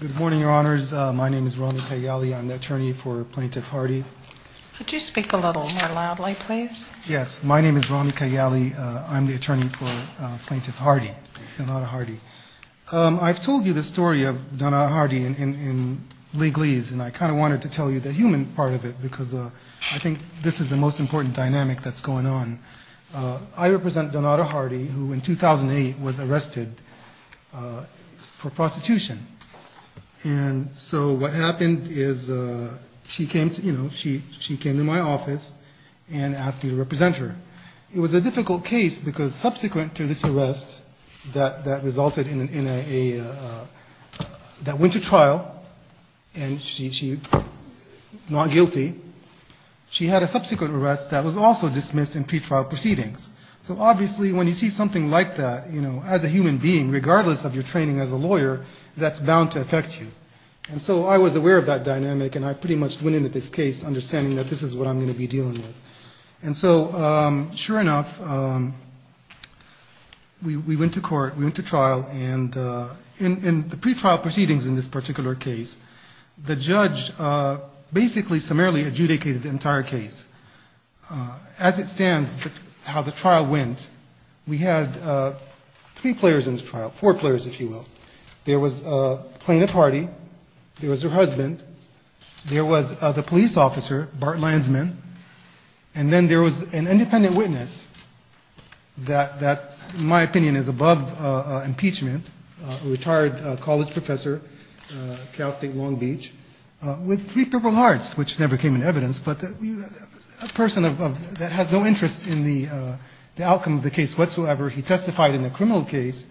Good morning, Your Honors. My name is Rami Kayyali. I'm the attorney for Plaintiff Hardy. Could you speak a little more loudly, please? Yes. My name is Rami Kayyali. I'm the attorney for Plaintiff Hardy, Donata Hardy. I've told you the story of Donata Hardy in legalese, and I kind of wanted to tell you the human part of it because I think this is the most important dynamic that's going on. I represent Donata Hardy, who in 2008 was arrested for prostitution. And so what happened is she came to my office and asked me to represent her. It was a difficult case because subsequent to this arrest that resulted in a, that went to trial, and she's not guilty, she had a subsequent arrest that was also dismissed in pretrial proceedings. So obviously when you see something like that, you know, as a human being, regardless of your training as a lawyer, that's bound to affect you. And so I was aware of that dynamic, and I pretty much went into this case understanding that this is what I'm going to be dealing with. And so sure enough, we went to court, we went to trial, and in the pretrial proceedings in this particular case, the judge basically summarily adjudicated the entire case. As it stands, how the trial went, we had three players in the trial, four players, if you will. There was Plaintiff Hardy, there was her husband, there was the police officer, Bart Landsman, and then there was an independent witness that, in my opinion, is above impeachment, a retired college professor, Cal State Long Beach, with three Purple Hearts, which never came in evidence, but a person that has no interest in the outcome of the case whatsoever. He testified in a criminal case,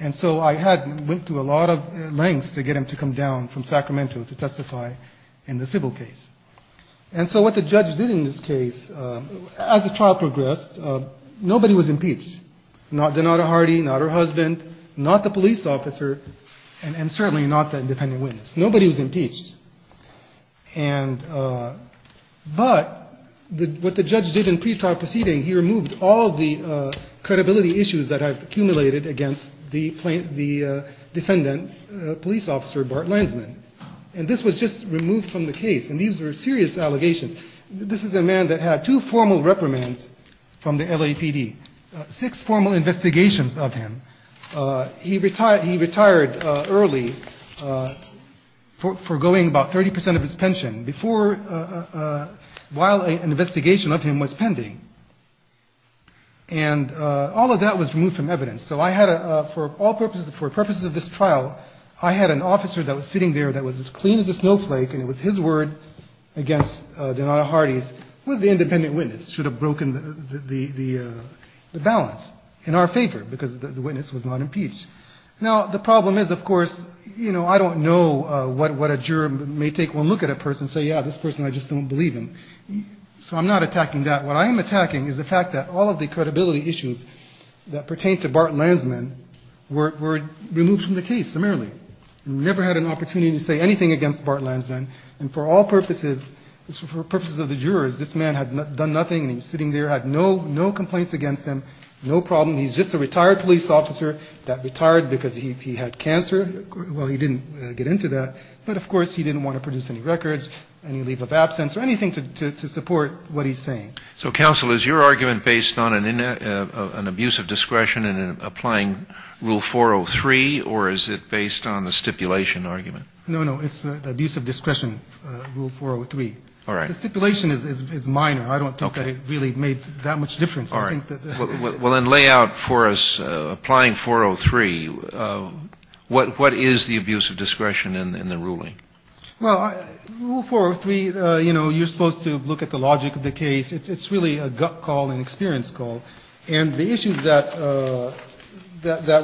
and so I had went to a lot of lengths to get him to come down from Sacramento to testify in the civil case. And so what the judge did in this case, as the trial progressed, nobody was impeached, not Donata Hardy, not her husband, not the police officer, and certainly not the independent witness. Nobody was impeached. But what the judge did in pretrial proceeding, he removed all the credibility issues that have accumulated against the defendant, police officer Bart Landsman. And this was just removed from the case, and these were serious allegations. This is a man that had two formal reprimands from the LAPD, six formal investigations of him. He retired early, forgoing about 30 percent of his pension, while an investigation of him was pending. And all of that was removed from evidence. So I had a, for all purposes, for purposes of this trial, I had an officer that was sitting there that was as clean as a snowflake, and it was his word against Donata Hardy's, with the independent witness. Should have broken the balance, in our favor, because the witness was not impeached. Now, the problem is, of course, you know, I don't know what a juror may take one look at a person and say, yeah, this person, I just don't believe him. So I'm not attacking that. What I am attacking is the fact that all of the credibility issues that pertain to Bart Landsman were removed from the case, summarily. Never had an opportunity to say anything against Bart Landsman. And for all purposes, for purposes of the jurors, this man had done nothing, and he was sitting there, had no complaints against him, no problem. He's just a retired police officer that retired because he had cancer. Well, he didn't get into that. But, of course, he didn't want to produce any records, any leave of absence, or anything to support what he's saying. So, counsel, is your argument based on an abuse of discretion in applying Rule 403, or is it based on the stipulation argument? No, no. It's the abuse of discretion, Rule 403. All right. The stipulation is minor. I don't think that it really made that much difference. Well, Rule 403, you know, you're supposed to look at the logic of the case. It's really a gut call and experience call. And the issues that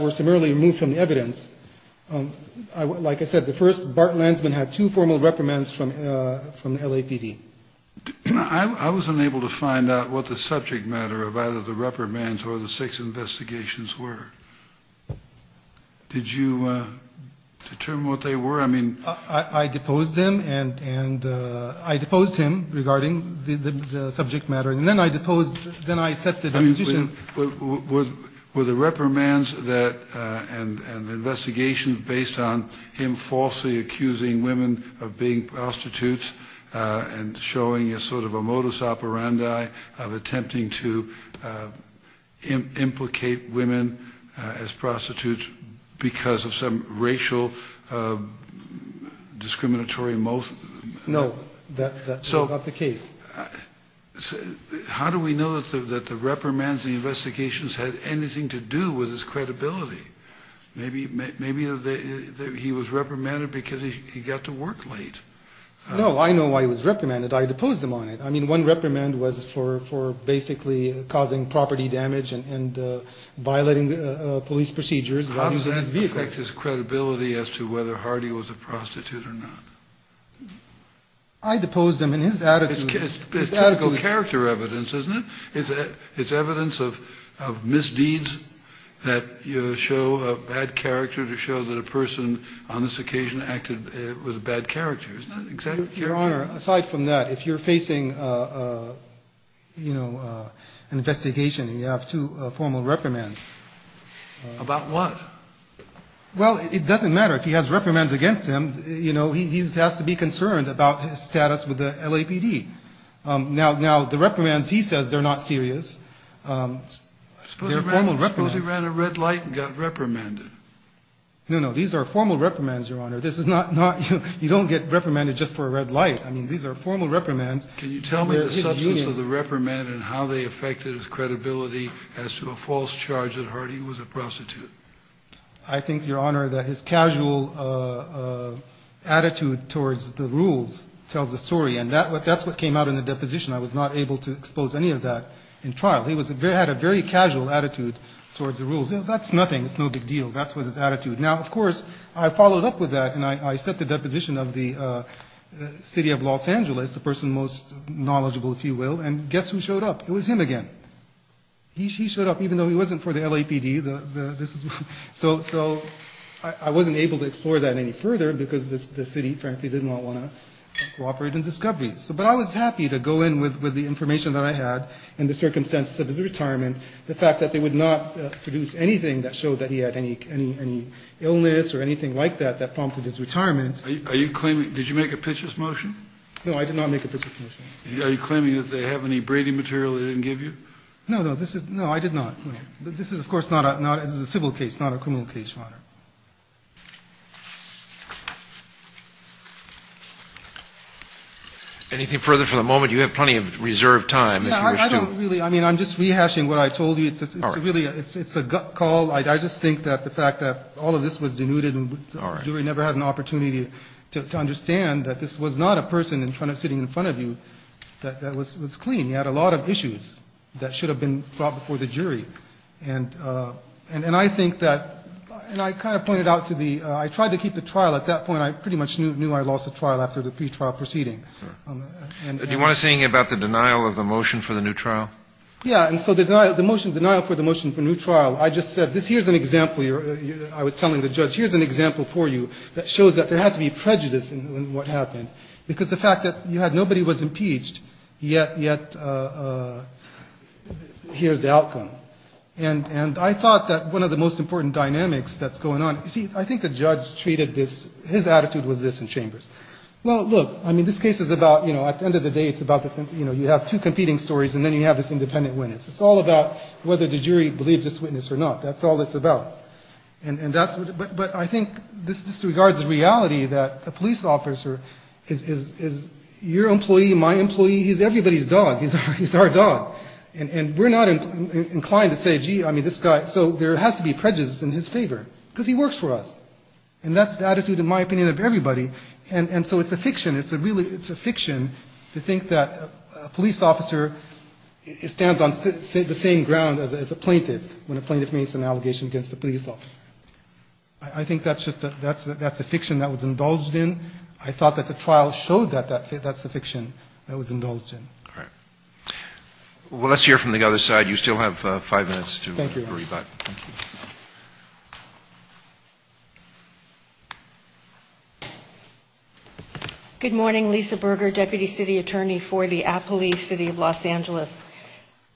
were summarily removed from the evidence, like I said, the first, Bart Landsman had two formal reprimands from the LAPD. I wasn't able to find out what the subject matter of either the reprimands or the six investigations were. Did you determine what they were? I mean... I deposed him regarding the subject matter, and then I set the deposition. Were the reprimands and the investigations based on him falsely accusing women of being prostitutes and showing a sort of a modus operandi of attempting to implicate women? As prostitutes because of some racial discriminatory... No, that's not the case. How do we know that the reprimands and the investigations had anything to do with his credibility? Maybe he was reprimanded because he got to work late. No, I know why he was reprimanded. I deposed him on it. I mean, one reprimand was for basically causing property damage and violating police procedures. How does that affect his credibility as to whether Hardy was a prostitute or not? I deposed him, and his attitude... It's typical character evidence, isn't it? It's evidence of misdeeds that show a bad character to show that a person on this occasion acted with a bad character. Your Honor, aside from that, if you're facing an investigation and you have two formal reprimands... About what? Well, it doesn't matter. If he has reprimands against him, he has to be concerned about his status with the LAPD. Now, the reprimands he says they're not serious, they're formal reprimands. Suppose he ran a red light and got reprimanded? No, no. These are formal reprimands, Your Honor. You don't get reprimanded just for a red light. I mean, these are formal reprimands. Can you tell me the substance of the reprimand and how they affected his credibility as to a false charge that Hardy was a prostitute? I think, Your Honor, that his casual attitude towards the rules tells the story. And that's what came out in the deposition. I was not able to expose any of that in trial. He had a very casual attitude towards the rules. That's nothing. It's no big deal. That was his attitude. Now, of course, I followed up with that and I set the deposition of the city of Los Angeles, the person most knowledgeable, if you will, and guess who showed up? It was him again. He showed up even though he wasn't for the LAPD. So I wasn't able to explore that any further because the city, frankly, did not want to cooperate in discovery. But I was happy to go in with the information that I had and the circumstances of his retirement. The fact that they would not produce anything that showed that he had any illness or anything like that that prompted his retirement. Are you claiming, did you make a pitches motion? No, I did not make a pitches motion. Are you claiming that they have any braiding material they didn't give you? No, I did not. This is, of course, a civil case, not a criminal case, Your Honor. Anything further for the moment? You have plenty of reserved time. No, I don't really. I mean, I'm just rehashing what I told you. It's really a gut call. I just think that the fact that all of this was denuded and you never had an opportunity to understand that this was not a person sitting in front of you that was clean. He had a lot of issues that should have been brought before the jury. And I think that, and I kind of pointed out to the, I tried to keep the trial. At that point, I pretty much knew I lost the trial after the pretrial proceeding. Do you want to say anything about the denial of the motion for the new trial? Yeah, and so the denial for the motion for new trial, I just said, here's an example. I was telling the judge, here's an example for you that shows that there had to be prejudice in what happened. Because the fact that you had nobody was impeached, yet here's the outcome. And I thought that one of the most important dynamics that's going on, you see, I think the judge treated this, his attitude was this in chambers. Well, look, I mean, this case is about, you know, at the end of the day, it's about this, you know, you have two competing stories and then you have this independent witness. It's all about whether the jury believes this witness or not. That's all it's about. But I think this disregards the reality that a police officer is your employee, my employee, he's everybody's dog, he's our dog. And we're not inclined to say, gee, I mean, this guy, so there has to be prejudice in his favor, because he works for us. And that's the attitude, in my opinion, of everybody. And so it's a fiction, it's a fiction to think that a police officer stands on the same ground as a plaintiff when a plaintiff makes an allegation against a police officer. I think that's just a, that's a fiction that was indulged in. I thought that the trial showed that that's a fiction that was indulged in. All right. Well, let's hear from the other side. You still have five minutes to rebut. Good morning. Lisa Berger, deputy city attorney for the Appalachia City of Los Angeles.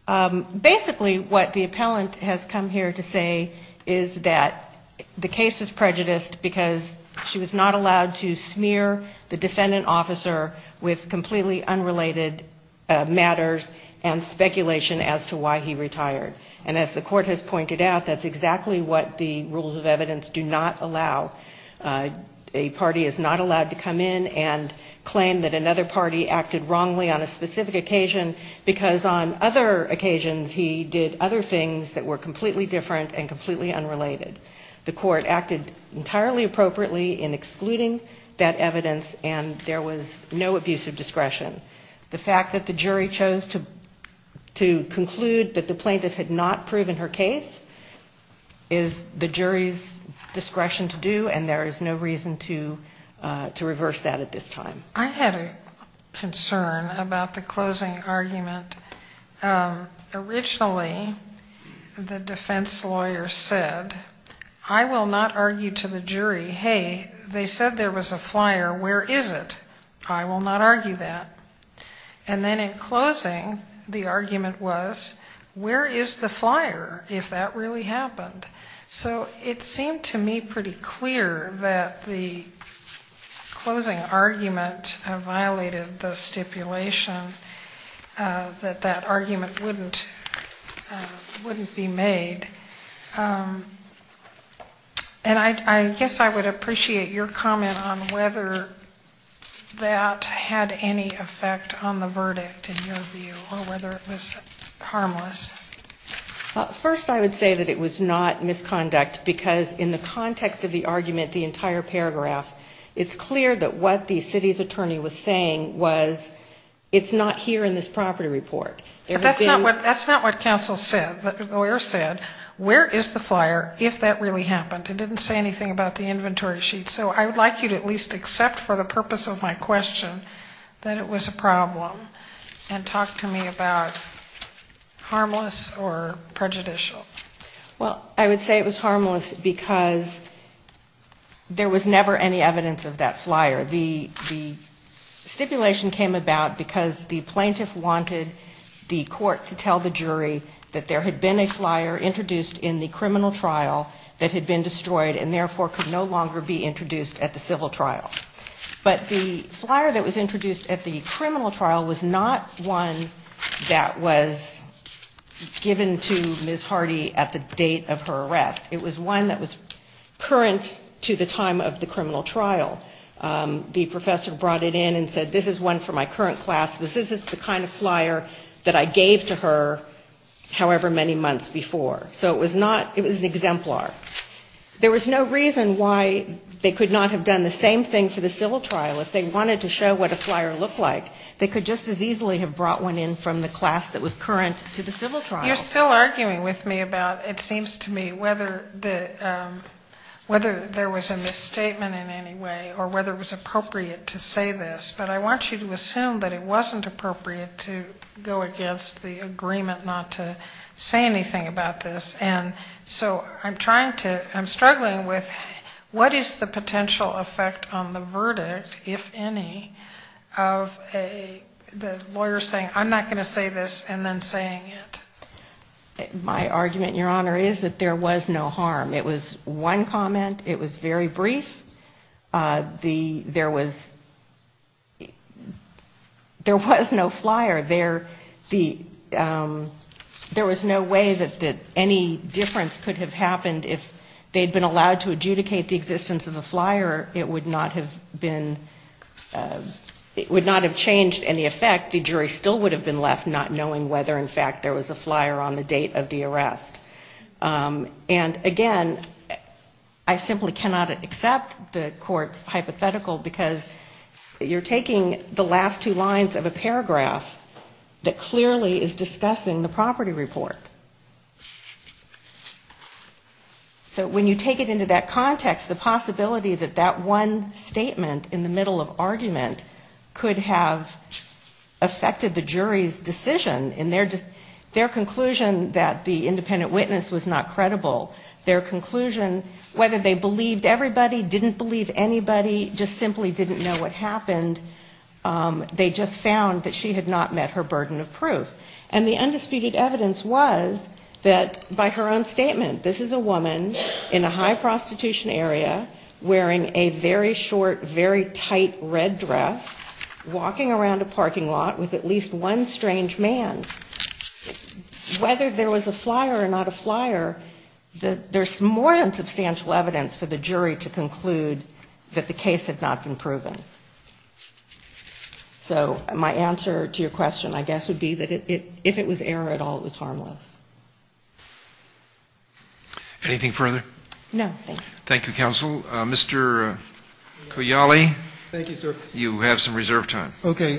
Basically, what the appellant has come here to say is that the case was prejudiced because she was not allowed to smear the defendant officer with completely unrelated matters and speculation as to why he retired. And as the court has pointed out, that's exactly what the rules of evidence do not allow. A party is not allowed to come in and claim that another party acted wrongly on a specific occasion, because on that particular occasion, on other occasions, he did other things that were completely different and completely unrelated. The court acted entirely appropriately in excluding that evidence, and there was no abuse of discretion. The fact that the jury chose to conclude that the plaintiff had not proven her case is the jury's discretion to do, and there is no reason to reverse that at this time. I had a concern about the closing argument. Originally, the defense lawyer said, I will not argue to the jury, hey, they said there was a flyer, where is it? I will not argue that. And then in closing, the argument was, where is the flyer, if that really happened? So it seemed to me pretty clear that the closing argument violated the stipulation, that that argument wouldn't be made. And I guess I would appreciate your comment on whether that had any effect on the verdict, in your view, or whether it was harmless. First, I would say that it was not misconduct, because in the context of the argument, the entire paragraph, it's clear that what the city's attorney was saying was, it's not here in this property report. That's not what counsel said. The lawyer said, where is the flyer, if that really happened? It didn't say anything about the inventory sheet. So I would like you to at least accept for the purpose of my question that it was a problem, and talk to me about harmless or prejudicial. Well, I would say it was harmless, because there was never any evidence of that flyer. The stipulation came about because the plaintiff wanted the court to tell the jury that there had been a flyer introduced in the criminal trial that had been destroyed, and therefore could no longer be introduced at the civil trial. But the flyer that was introduced at the criminal trial was not one that was given to Ms. Hardy at the date of her arrest. It was one that was current to the time of the criminal trial. The professor brought it in and said, this is one for my current class, this is the kind of flyer that I gave to her however many months before. So it was not, it was an exemplar. There was no reason why they could not have done the same thing for the civil trial. If they wanted to show what a flyer looked like, they could just as easily have brought one in from the class that was current to the civil trial. You're still arguing with me about, it seems to me, whether there was a misstatement in any way, or whether it was appropriate to say this. But I want you to assume that it wasn't appropriate to go against the agreement not to say anything about this. And so I'm trying to, I'm struggling with what is the potential effect on the verdict, if any, of the lawyer saying I'm not going to say this and then saying it. My argument, Your Honor, is that there was no harm. It was one comment, it was very brief. There was no flyer. There was no way that any difference could have happened if they had been allowed to adjudicate the existence of a flyer. It would not have been, it would not have changed any effect. The jury still would have been left not knowing whether, in fact, there was a flyer on the date of the arrest. And again, I simply cannot accept the Court's hypothetical, because you're taking the last two lines of a paragraph. That clearly is discussing the property report. So when you take it into that context, the possibility that that one statement in the middle of argument could have affected the jury's decision in their, their conclusion that the independent witness was not credible. Their conclusion, whether they believed everybody, didn't believe anybody, just simply didn't know what happened. They just found that she had not met her burden of proof. And the undisputed evidence was that by her own statement, this is a woman in a high prostitution area wearing a very short, very tight red dress, walking around a parking lot with at least one strange man. Whether there was a flyer or not a flyer, there's more than substantial evidence for the jury to conclude that the case had not been proven. So my answer to your question, I guess, would be that if it was error at all, it was harmless. Anything further? No, thank you. Thank you, counsel. Mr. Cogliali. Thank you, sir. You have some reserve time. Okay.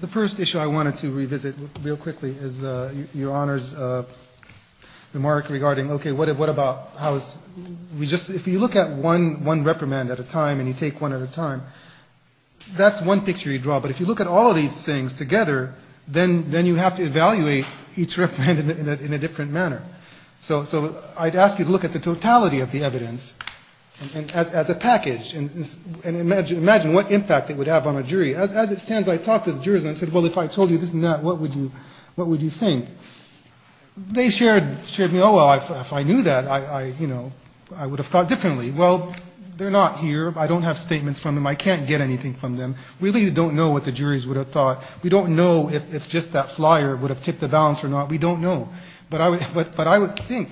The first issue I wanted to revisit real quickly is Your Honor's remark regarding okay, what about, how is, we just, if you look at one reprimand at a time and you take one at a time, that's one picture you draw. But if you look at all of these things together, then you have to evaluate each reprimand in a different manner. So I'd ask you to look at the totality of the evidence as a package and imagine what impact it would have on a jury. As it stands, I talked to the jurors and said, well, if I told you this and that, what would you think? They shared with me, oh, well, if I knew that, I would have thought differently. Well, they're not here. I don't have statements from them. I can't get anything from them. We really don't know what the juries would have thought. We don't know if just that flyer would have tipped the balance or not. We don't know. But I would think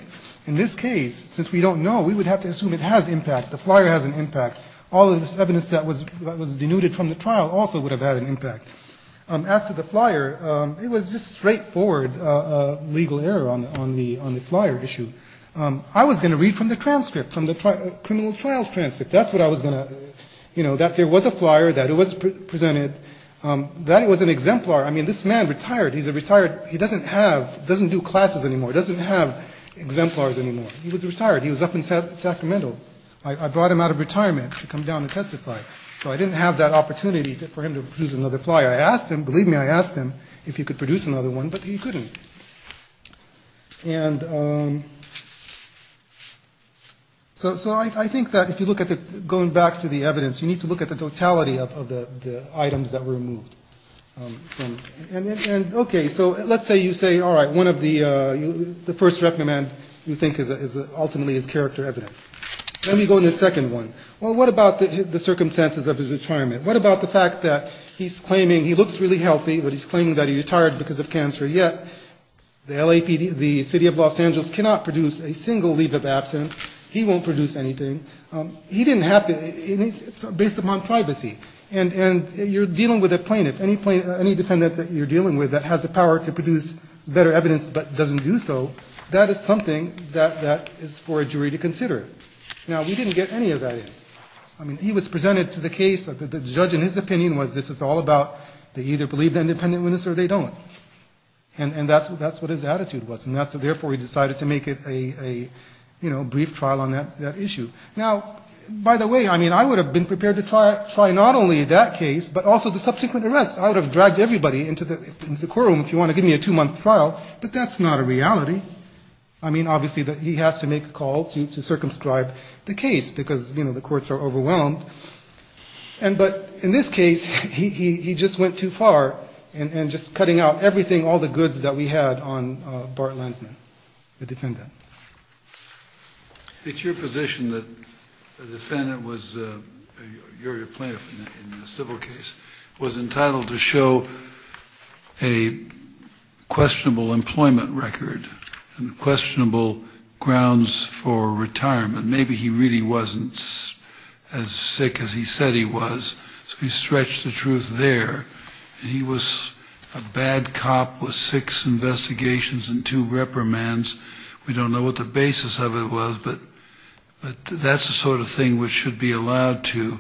in this case, since we don't know, we would have to assume it has impact. The flyer has an impact. All of this evidence that was denuded from the trial also would have had an impact. As to the flyer, it was just straightforward legal error on the flyer issue. I was going to read from the transcript, from the criminal trial transcript. That's what I was going to, you know, that there was a flyer, that it was presented, that it was an exemplar. I mean, this man retired. He's a retired, he doesn't have, doesn't do classes anymore, doesn't have exemplars anymore. He was retired. He was up in Sacramento. I brought him out of retirement to come down and testify. So I didn't have that opportunity for him to produce another flyer. I asked him, believe me, I asked him if he could produce another one, but he couldn't. And so I think that if you look at the, going back to the evidence, you need to look at the totality of the items that were removed. And, okay, so let's say you say, all right, one of the, the first recommend you think is ultimately his character evidence. Let me go to the second one. Well, what about the circumstances of his retirement? What about the fact that he's claiming he looks really healthy, but he's claiming that he retired because of cancer? Yet, the LAPD, the city of Los Angeles cannot produce a single leave of absence. He won't produce anything. He didn't have to. It's based upon privacy. And you're dealing with a plaintiff. Any plaintiff, any defendant that you're dealing with that has the power to produce better evidence but doesn't do so, that is something that is for a jury to consider. Now, we didn't get any of that in. I mean, he was presented to the case. The judge, in his opinion, was this is all about they either believe the independent witness or they don't. And that's what his attitude was. And therefore, he decided to make it a, you know, brief trial on that issue. Now, by the way, I mean, I would have been prepared to try not only that case but also the subsequent arrests. I would have dragged everybody into the courtroom if you want to give me a two-month trial. But that's not a reality. I mean, obviously, he has to make a call to circumscribe the case because, you know, the courts are overwhelmed. But in this case, he just went too far in just cutting out everything, all the goods that we had on Bart Landsman, the defendant. It's your position that the defendant was, you're a plaintiff in a civil case, was entitled to show a questionable employment record and questionable grounds for retirement. Maybe he really wasn't as sick as he said he was. So he stretched the truth there. And he was a bad cop with six investigations and two reprimands. We don't know what the basis of it was. But that's the sort of thing which should be allowed to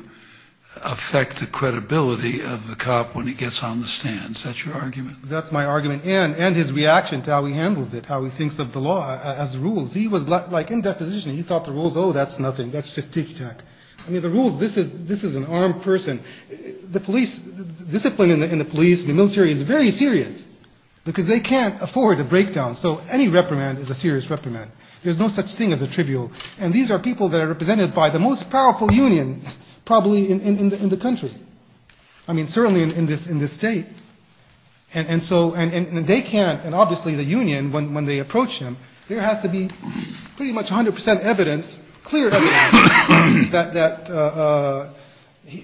affect the credibility of the cop when he gets on the stand. Is that your argument? That's my argument and his reaction to how he handles it, how he thinks of the law as rules. He was like in that position. He thought the rules, oh, that's nothing. That's just tic-tac. I mean, the rules, this is an armed person. The discipline in the police and the military is very serious because they can't afford a breakdown. So any reprimand is a serious reprimand. There's no such thing as a trivial. And these are people that are represented by the most powerful unions probably in the country. I mean, certainly in this state. And they can't, and obviously the union, when they approach him, there has to be pretty much 100% evidence, clear evidence that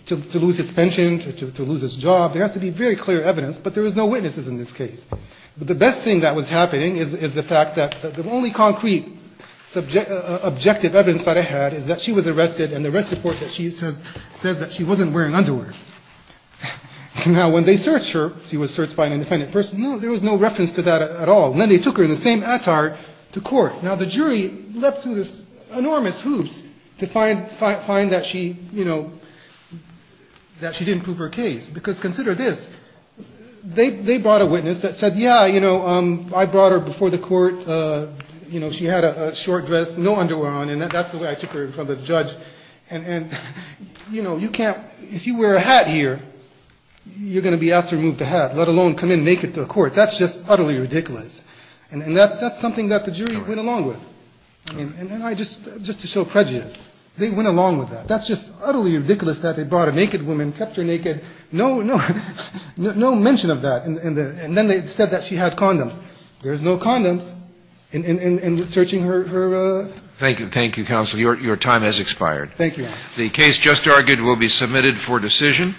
to lose his pension, to lose his job, there has to be very clear evidence. But there is no witnesses in this case. The best thing that was happening is the fact that the only concrete objective evidence that I had is that she was arrested and the arrest report says that she wasn't wearing underwear. Now, when they searched her, she was searched by an independent person. No, there was no reference to that at all. And then they took her in the same attire to court. Now, the jury leapt through this enormous hoops to find that she didn't prove her case. Because consider this, they brought a witness that said, yeah, I brought her before the court. She had a short dress, no underwear on, and that's the way I took her in front of the judge. And, you know, you can't, if you wear a hat here, you're going to be asked to remove the hat, let alone come in naked to a court. That's just utterly ridiculous. And that's something that the jury went along with. And I just, just to show prejudice, they went along with that. That's just utterly ridiculous that they brought a naked woman, kept her naked, no mention of that. And then they said that she had condoms. There's no condoms in searching her. Thank you. Thank you, counsel. Your time has expired. Thank you, Your Honor. The case just argued will be submitted for decision.